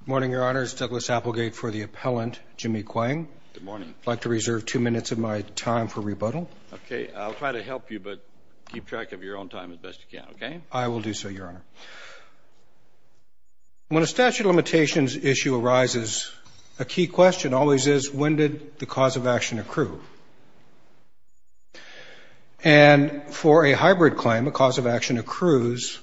Good morning, Your Honor. It's Douglas Applegate for the appellant, Jimmy Kuang. Good morning. I'd like to reserve two minutes of my time for rebuttal. Okay. I'll try to help you, but keep track of your own time as best you can, okay? I will do so, Your Honor. When a statute of limitations issue arises, a key question always is, when did the cause of action accrue? And for a hybrid claim, a cause of action accrues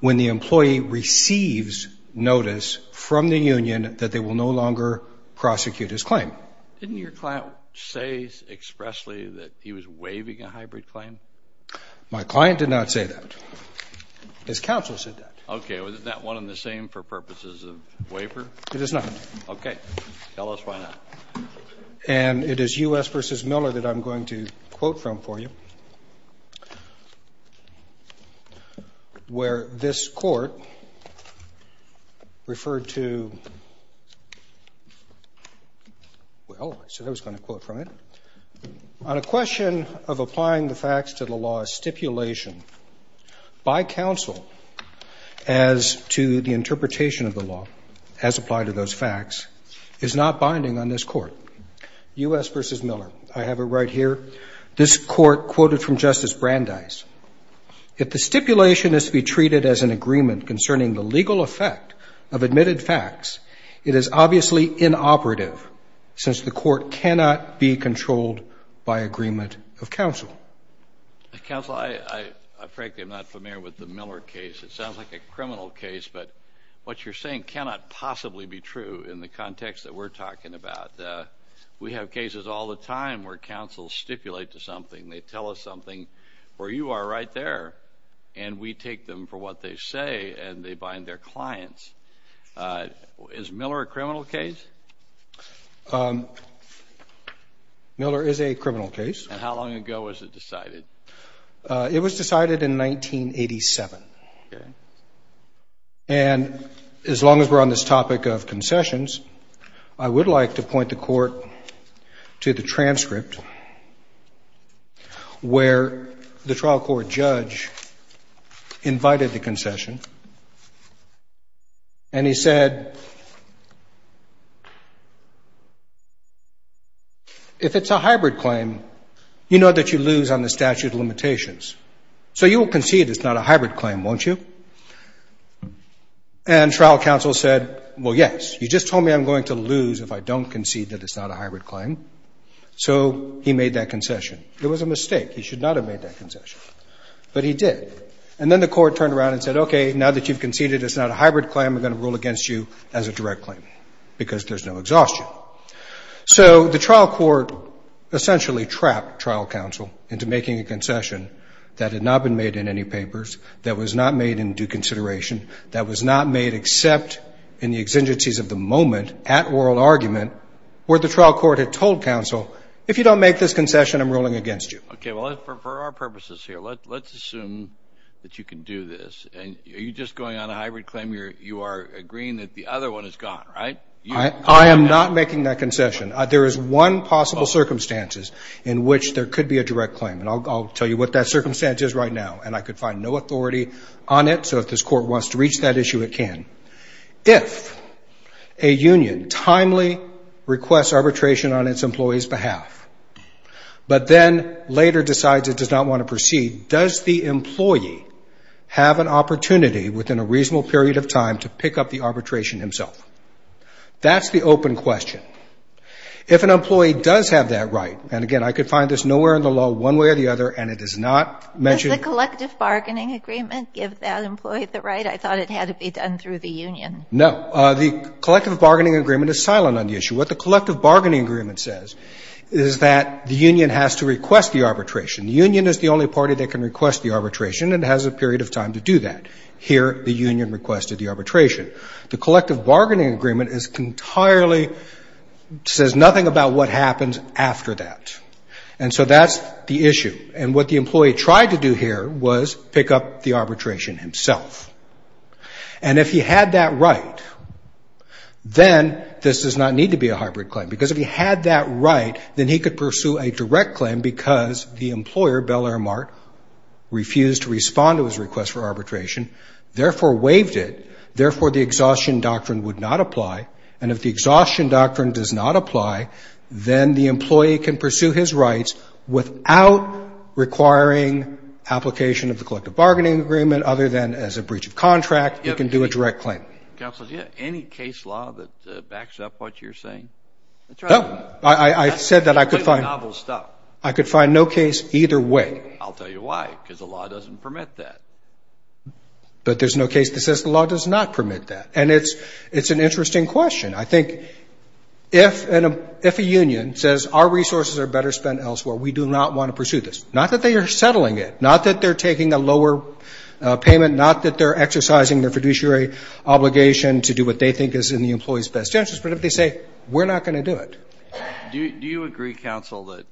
when the employee receives notice from the union that they will no longer prosecute his claim. Didn't your client say expressly that he was waiving a hybrid claim? My client did not say that. His counsel said that. Okay. Isn't that one and the same for purposes of waiver? It is not. Okay. Tell us why not. And it is U.S. v. Miller that I'm going to quote from for you, where this court referred to, well, I said I was going to quote from it. On a question of applying the facts to the law, a stipulation by counsel as to the interpretation of the law as applied to those facts is not binding on this court. U.S. v. Miller. I have it right here. This court quoted from Justice Brandeis. If the stipulation is to be treated as an agreement concerning the legal effect of admitted facts, it is obviously inoperative since the court cannot be controlled by agreement of counsel. Counsel, I frankly am not familiar with the Miller case. It sounds like a criminal case, but what you're saying cannot possibly be true in the context that we're talking about. We have cases all the time where counsels stipulate to something. They tell us something where you are right there, and we take them for what they say, and they bind their clients. Is Miller a criminal case? Miller is a criminal case. And how long ago was it decided? It was decided in 1987. Okay. And as long as we're on this topic of concessions, I would like to point the court to the transcript where the trial court judge invited the concession, and he said, if it's a hybrid claim, you know that you lose on the statute of limitations. So you will concede it's not a hybrid claim, won't you? And trial counsel said, well, yes. You just told me I'm going to lose if I don't concede that it's not a hybrid claim. So he made that concession. It was a mistake. He should not have made that concession, but he did. And then the court turned around and said, okay, now that you've conceded it's not a hybrid claim, we're going to rule against you as a direct claim because there's no exhaustion. So the trial court essentially trapped trial counsel into making a concession that had not been made in any papers, that was not made in due consideration, that was not made except in the exigencies of the moment at oral argument where the trial court had told counsel, if you don't make this concession, I'm ruling against you. Okay. Well, for our purposes here, let's assume that you can do this. Are you just going on a hybrid claim? You are agreeing that the other one is gone, right? I am not making that concession. There is one possible circumstances in which there could be a direct claim, and I'll tell you what that circumstance is right now, and I could find no authority on it. So if this court wants to reach that issue, it can. If a union timely requests arbitration on its employee's behalf, but then later decides it does not want to proceed, does the employee have an opportunity within a reasonable period of time to pick up the arbitration himself? That's the open question. If an employee does have that right, and again, I could find this nowhere in the law one way or the other, and it is not mentioned. Does the collective bargaining agreement give that employee the right? I thought it had to be done through the union. No. The collective bargaining agreement is silent on the issue. What the collective bargaining agreement says is that the union has to request the arbitration. The union is the only party that can request the arbitration and has a period of time to do that. Here, the union requested the arbitration. The collective bargaining agreement is entirely, says nothing about what happens after that. And so that's the issue. And what the employee tried to do here was pick up the arbitration himself. And if he had that right, then this does not need to be a hybrid claim, because if he had that right, then he could pursue a direct claim because the employer, Bel Air Mart, refused to respond to his request for arbitration, therefore waived it, therefore the exhaustion doctrine would not apply. And if the exhaustion doctrine does not apply, then the employee can pursue his rights without requiring application of the collective bargaining agreement, other than as a breach of contract, he can do a direct claim. Counsel, do you have any case law that backs up what you're saying? No. I said that I could find no case either way. I'll tell you why, because the law doesn't permit that. But there's no case that says the law does not permit that. And it's an interesting question. I think if a union says our resources are better spent elsewhere, we do not want to pursue this, not that they are settling it, not that they're taking a lower payment, not that they're exercising their fiduciary obligation to do what they think is in the employee's best interest, but if they say we're not going to do it. Do you agree, counsel, that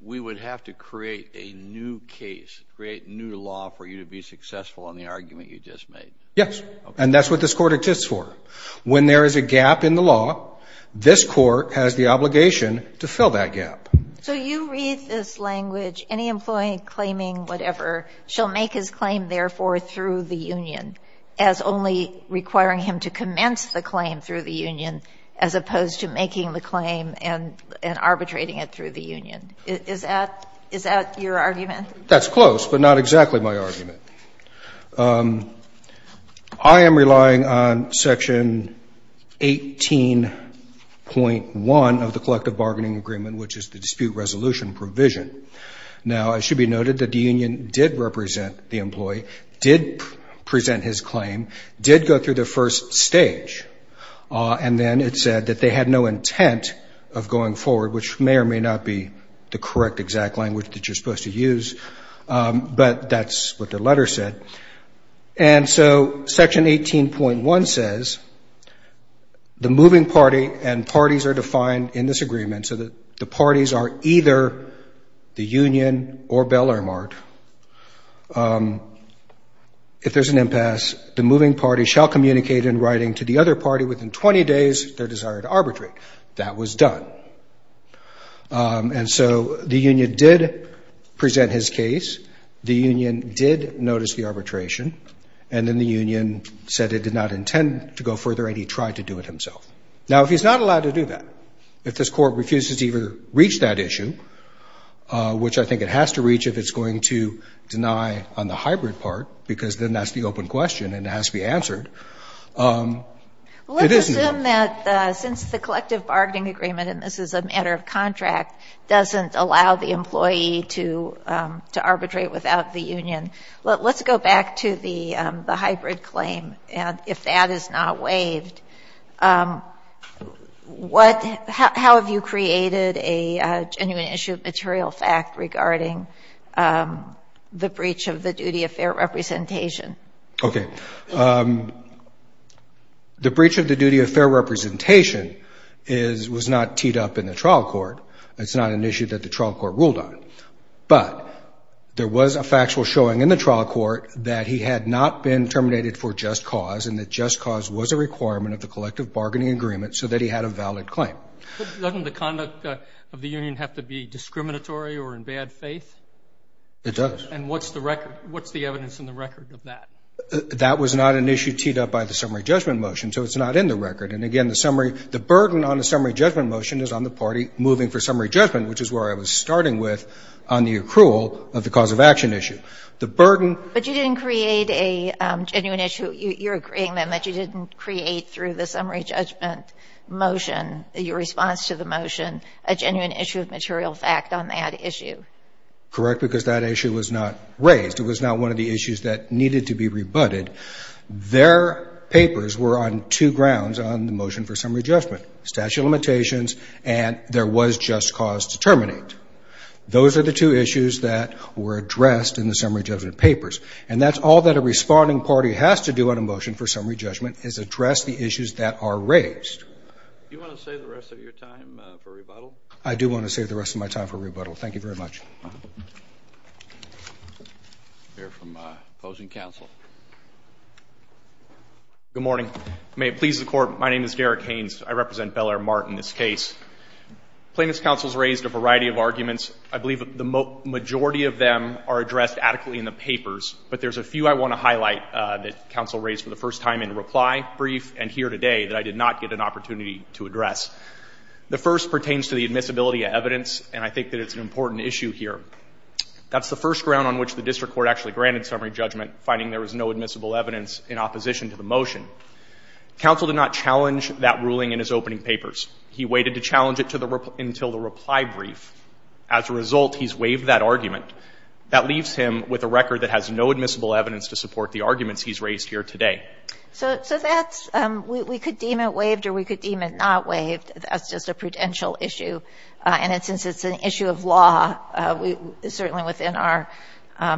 we would have to create a new case, create new law for you to be successful in the argument you just made? Yes. And that's what this Court exists for. When there is a gap in the law, this Court has the obligation to fill that gap. So you read this language, any employee claiming whatever shall make his claim therefore through the union as only requiring him to commence the claim through the union as opposed to making the claim and arbitrating it through the union. Is that your argument? That's close, but not exactly my argument. I am relying on Section 18.1 of the Collective Bargaining Agreement, which is the dispute resolution provision. Now, it should be noted that the union did represent the employee, did present his claim, did go through the first stage, and then it said that they had no intent of going forward, which may or may not be the correct exact language that you're supposed to use, but that's what the letter said. And so Section 18.1 says the moving party and parties are defined in this agreement so that the parties are either the union or Bellarmine. If there's an impasse, the moving party shall communicate in writing to the other party within 20 days their desire to arbitrate. That was done. And so the union did present his case, the union did notice the arbitration, and then the union said it did not intend to go further and he tried to do it himself. Now, if he's not allowed to do that, if this Court refuses to even reach that issue, which I think it has to reach if it's going to deny on the hybrid part, because then that's the open question and it has to be answered, it isn't. Sotomayor, Let's assume that since the Collective Bargaining Agreement, and this is a matter of contract, doesn't allow the employee to arbitrate without the union. Let's go back to the hybrid claim. If that is not waived, what, how have you created a genuine issue of material fact regarding the breach of the duty of fair representation? Okay. The breach of the duty of fair representation is, was not teed up in the trial court. It's not an issue that the trial court ruled on. But there was a factual showing in the trial court that he had not been terminated for just cause and that just cause was a requirement of the Collective Bargaining Agreement so that he had a valid claim. Doesn't the conduct of the union have to be discriminatory or in bad faith? It does. And what's the record, what's the evidence in the record of that? That was not an issue teed up by the summary judgment motion, so it's not in the record. And again, the summary, the burden on the summary judgment motion is on the party moving for summary judgment, which is where I was starting with on the accrual of the cause of action issue. The burden. But you didn't create a genuine issue. You're agreeing then that you didn't create through the summary judgment motion, your response to the motion, a genuine issue of material fact on that issue? Correct, because that issue was not raised. It was not one of the issues that needed to be rebutted. Their papers were on two grounds on the motion for summary judgment, statute of limitations, and there was just cause to terminate. Those are the two issues that were addressed in the summary judgment papers. And that's all that a responding party has to do on a motion for summary judgment is address the issues that are raised. Do you want to save the rest of your time for rebuttal? I do want to save the rest of my time for rebuttal. Thank you very much. We'll hear from opposing counsel. Good morning. May it please the Court, my name is Derek Haynes. I represent Bel Air Mart in this case. Plaintiff's counsel has raised a variety of arguments. I believe the majority of them are addressed adequately in the papers, but there's a few I want to highlight that counsel raised for the first time in reply, brief, and here today that I did not get an opportunity to address. The first pertains to the admissibility of evidence, and I think that it's an important issue here. That's the first ground on which the district court actually granted summary judgment, finding there was no admissible evidence in opposition to the motion. Counsel did not challenge that ruling in his opening papers. He waited to challenge it until the reply brief. As a result, he's waived that argument. That leaves him with a record that has no admissible evidence to support the arguments he's raised here today. So that's we could deem it waived or we could deem it not waived. That's just a prudential issue, and since it's an issue of law, it's certainly within our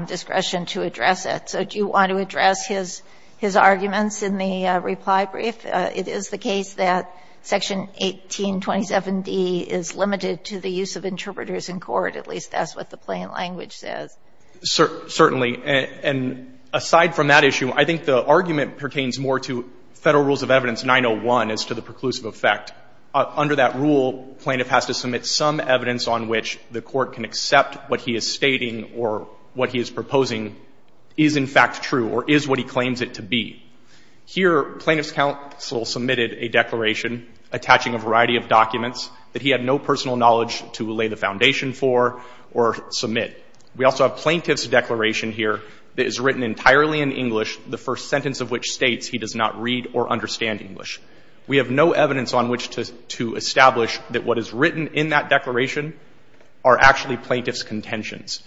discretion to address it. So do you want to address his arguments in the reply brief? It is the case that Section 1827d is limited to the use of interpreters in court, at least that's what the plain language says. Certainly. And aside from that issue, I think the argument pertains more to Federal Rules of Evidence 901 as to the preclusive effect. Under that rule, plaintiff has to submit some evidence on which the court can accept what he is stating or what he is proposing is in fact true or is what he claims it to be. Here, plaintiff's counsel submitted a declaration attaching a variety of documents that he had no personal knowledge to lay the foundation for or submit. We also have plaintiff's declaration here that is written entirely in English, the first sentence of which states he does not read or understand English. We have no evidence on which to establish that what is written in that declaration are actually plaintiff's contentions.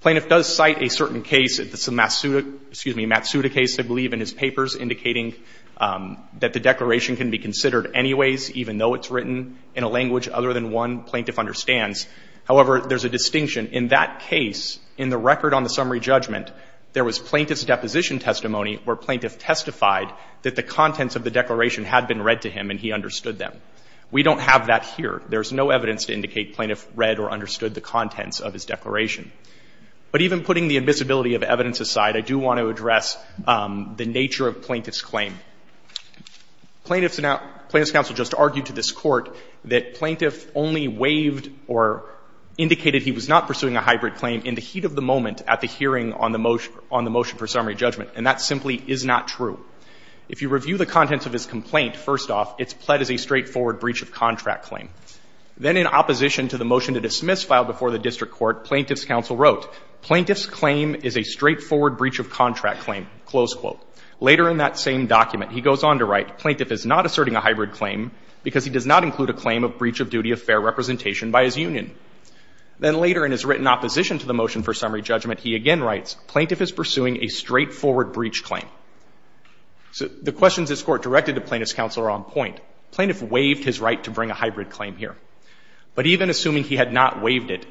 Plaintiff does cite a certain case, the Matsuda case, I believe, in his papers indicating that the declaration can be considered anyways even though it's written in a language other than one plaintiff understands. However, there's a distinction. In that case, in the record on the summary judgment, there was plaintiff's deposition testimony where plaintiff testified that the contents of the declaration had been read to him and he understood them. We don't have that here. There's no evidence to indicate plaintiff read or understood the contents of his declaration. But even putting the admissibility of evidence aside, I do want to address the nature of plaintiff's claim. Plaintiff's counsel just argued to this Court that plaintiff only waived or indicated he was not pursuing a hybrid claim in the heat of the moment at the hearing on the motion for summary judgment, and that simply is not true. If you review the contents of his complaint, first off, it's pled as a straightforward breach of contract claim. Then in opposition to the motion to dismiss filed before the district court, plaintiff's counsel wrote, plaintiff's claim is a straightforward breach of contract claim, close quote. Later in that same document, he goes on to write, plaintiff is not asserting a hybrid claim because he does not include a claim of breach of duty of fair representation by his union. Then later in his written opposition to the motion for summary judgment, he again writes, plaintiff is pursuing a straightforward breach claim. So the questions this Court directed to plaintiff's counsel are on point. Plaintiff waived his right to bring a hybrid claim here. But even assuming he had not waived it,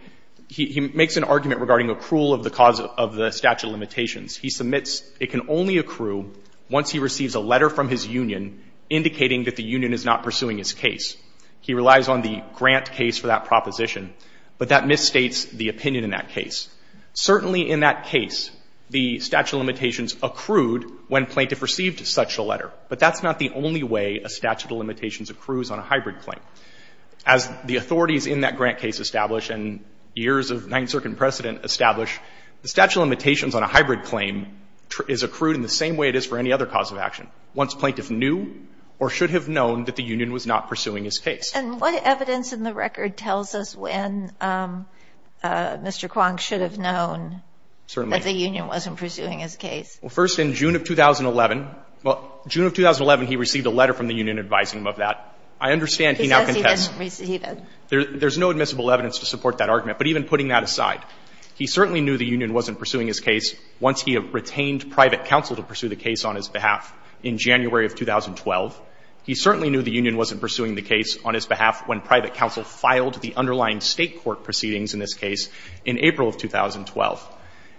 he makes an argument regarding accrual of the cause of the statute of limitations. He submits it can only accrue once he receives a letter from his union indicating that the union is not pursuing his case. He relies on the grant case for that proposition, but that misstates the opinion in that case. Certainly in that case, the statute of limitations accrued when plaintiff received such a letter. But that's not the only way a statute of limitations accrues on a hybrid claim. As the authorities in that grant case establish and years of Ninth Circuit precedent establish, the statute of limitations on a hybrid claim is accrued in the same way it is for any other cause of action, once plaintiff knew or should have known that the union was not pursuing his case. And what evidence in the record tells us when Mr. Kwong should have known that the union wasn't pursuing his case? Well, first, in June of 2011, well, June of 2011, he received a letter from the union advising him of that. I understand he now contests. He says he didn't receive it. There's no admissible evidence to support that argument. But even putting that aside, he certainly knew the union wasn't pursuing his case once he had retained private counsel to pursue the case on his behalf in January of 2012. He certainly knew the union wasn't pursuing the case on his behalf when private counsel filed the underlying State court proceedings in this case in April of 2012.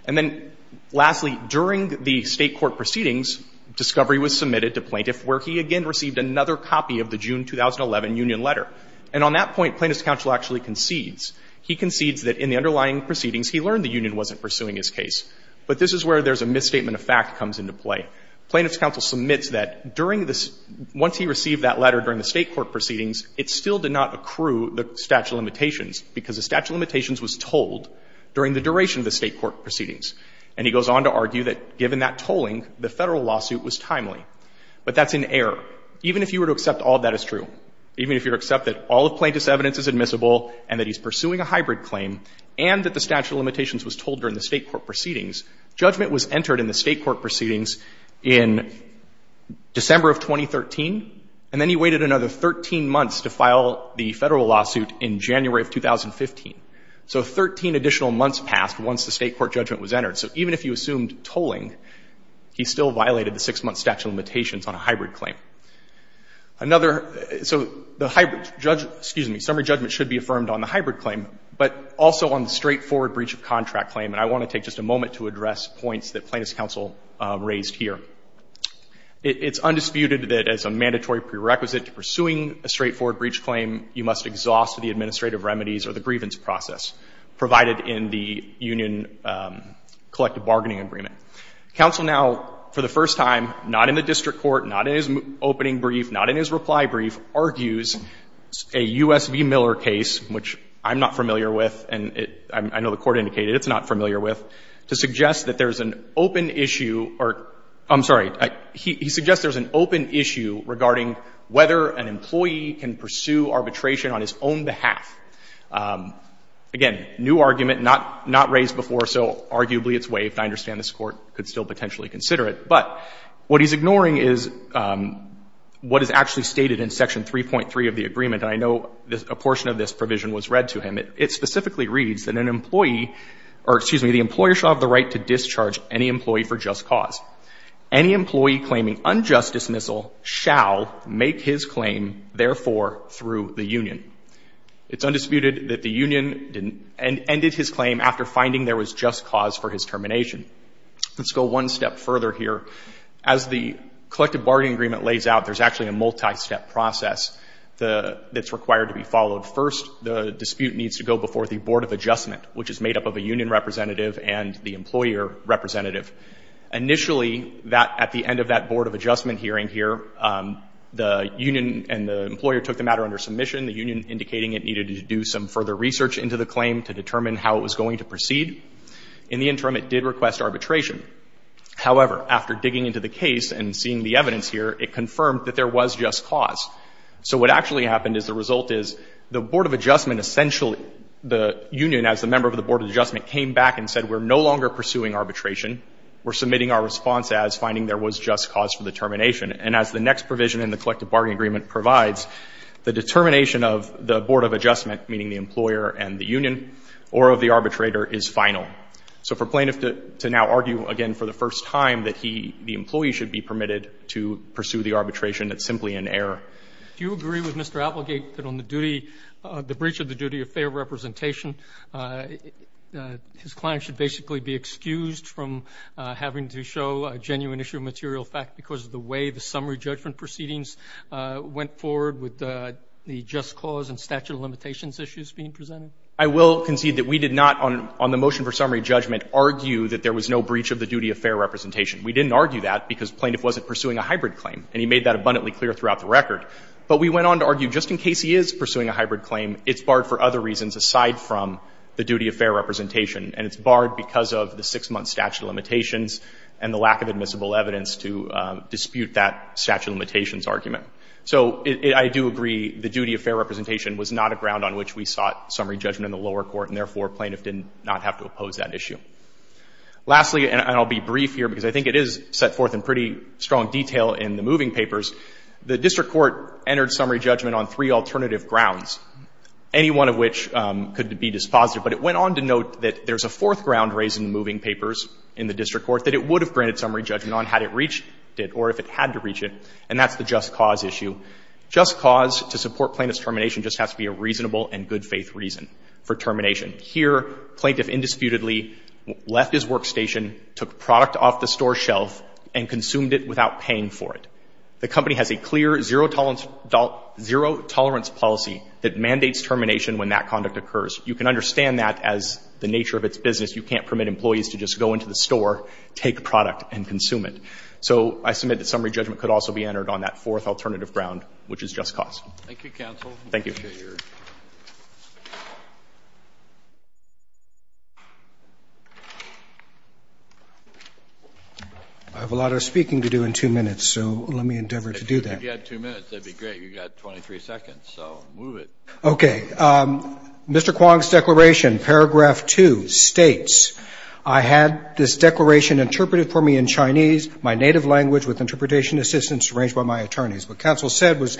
And then lastly, during the State court proceedings, discovery was submitted to plaintiff where he again received another copy of the June 2011 union letter. And on that point, plaintiff's counsel actually concedes. He concedes that in the underlying proceedings, he learned the union wasn't pursuing his case. But this is where there's a misstatement of fact comes into play. Plaintiff's counsel submits that during the — once he received that letter during the State court proceedings. And he goes on to argue that given that tolling, the Federal lawsuit was timely. But that's in error. Even if you were to accept all of that is true, even if you accept that all of plaintiff's evidence is admissible and that he's pursuing a hybrid claim and that the statute of limitations was told during the State court proceedings, judgment was entered in the State court proceedings in December of 2013, and then he waited another 13 months to file the Federal lawsuit in January of 2015. So 13 additional months passed once the State court judgment was entered. So even if you assumed tolling, he still violated the six-month statute of limitations on a hybrid claim. Another — so the hybrid — excuse me, summary judgment should be affirmed on the hybrid claim, but also on the straightforward breach of contract claim. And I want to take just a moment to address points that plaintiff's counsel raised here. It's undisputed that as a mandatory prerequisite to pursuing a straightforward breach claim, you must exhaust the administrative remedies or the grievance process provided in the union collective bargaining agreement. Counsel now, for the first time, not in the district court, not in his opening brief, not in his reply brief, argues a U.S. v. Miller case, which I'm not familiar with, and I know the court indicated it's not familiar with, to suggest that there is an open issue regarding whether an employee can pursue arbitration on his own behalf. Again, new argument, not raised before, so arguably it's waived. I understand this Court could still potentially consider it. But what he's ignoring is what is actually stated in Section 3.3 of the agreement. And I know a portion of this provision was read to him. It specifically reads that an employee — or, excuse me, the employer shall have the unjust dismissal shall make his claim, therefore, through the union. It's undisputed that the union ended his claim after finding there was just cause for his termination. Let's go one step further here. As the collective bargaining agreement lays out, there's actually a multi-step process that's required to be followed. First, the dispute needs to go before the Board of Adjustment, which is made up of a union representative and the employer representative. Initially, that — at the end of that Board of Adjustment hearing here, the union and the employer took the matter under submission, the union indicating it needed to do some further research into the claim to determine how it was going to proceed. In the interim, it did request arbitration. However, after digging into the case and seeing the evidence here, it confirmed that there was just cause. So what actually happened is the result is the Board of Adjustment essentially — the union, as the member of the Board of Adjustment, came back and said, we're no longer pursuing arbitration. We're submitting our response as finding there was just cause for the termination. And as the next provision in the collective bargaining agreement provides, the determination of the Board of Adjustment, meaning the employer and the union, or of the arbitrator is final. So for plaintiff to now argue again for the first time that he — the employee should be permitted to pursue the arbitration, it's simply an error. Do you agree with Mr. Applegate that on the duty — the breach of the duty of fair representation, his client should basically be excused from having to show a genuine issue of material fact because of the way the summary judgment proceedings went forward with the just cause and statute of limitations issues being presented? I will concede that we did not, on the motion for summary judgment, argue that there was no breach of the duty of fair representation. We didn't argue that because plaintiff wasn't pursuing a hybrid claim, and he made that abundantly clear throughout the record. But we went on to argue just in case he is pursuing a hybrid claim, it's barred for other reasons aside from the duty of fair representation. And it's barred because of the six-month statute of limitations and the lack of admissible evidence to dispute that statute of limitations argument. So I do agree the duty of fair representation was not a ground on which we sought summary judgment in the lower court, and therefore plaintiff did not have to oppose that issue. Lastly, and I'll be brief here because I think it is set forth in pretty strong detail in the moving papers, the district court entered summary judgment on three alternative grounds. Any one of which could be dispositive. But it went on to note that there's a fourth ground raised in the moving papers in the district court that it would have granted summary judgment on had it reached it or if it had to reach it, and that's the just cause issue. Just cause to support plaintiff's termination just has to be a reasonable and good faith reason for termination. Here, plaintiff indisputably left his workstation, took product off the store shelf, and consumed it without paying for it. The company has a clear zero tolerance policy that mandates termination when that conduct occurs. You can understand that as the nature of its business. You can't permit employees to just go into the store, take a product, and consume it. So I submit that summary judgment could also be entered on that fourth alternative ground, which is just cause. Thank you, counsel. Thank you. I have a lot of speaking to do in two minutes, so let me endeavor to do that. If you had two minutes, that would be great. You've got 23 seconds, so move it. Okay. Mr. Kwong's declaration, paragraph 2, states, I had this declaration interpreted for me in Chinese, my native language, with interpretation assistance arranged by my attorneys. What counsel said was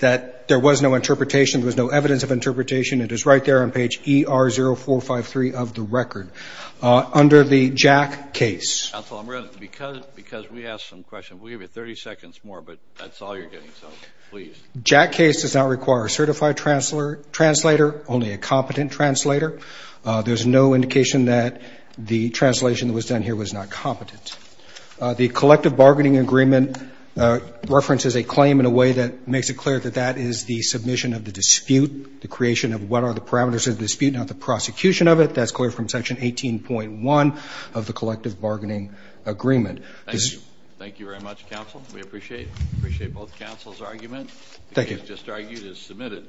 that there was no interpretation, there was no evidence of interpretation. It is right there on page ER0453 of the record. Under the Jack case. Counsel, I'm going to, because we have some questions, we'll give you 30 seconds more, but that's all you're getting, so please. Jack case does not require a certified translator, only a competent translator. There's no indication that the translation that was done here was not competent. The collective bargaining agreement references a claim in a way that makes it clear that that is the submission of the dispute, the creation of what are the parameters of the dispute, not the prosecution of it. That's clear from section 18.1 of the collective bargaining agreement. Thank you. Thank you very much, counsel. We appreciate it. We appreciate both counsel's arguments. Thank you. The case just argued is submitted.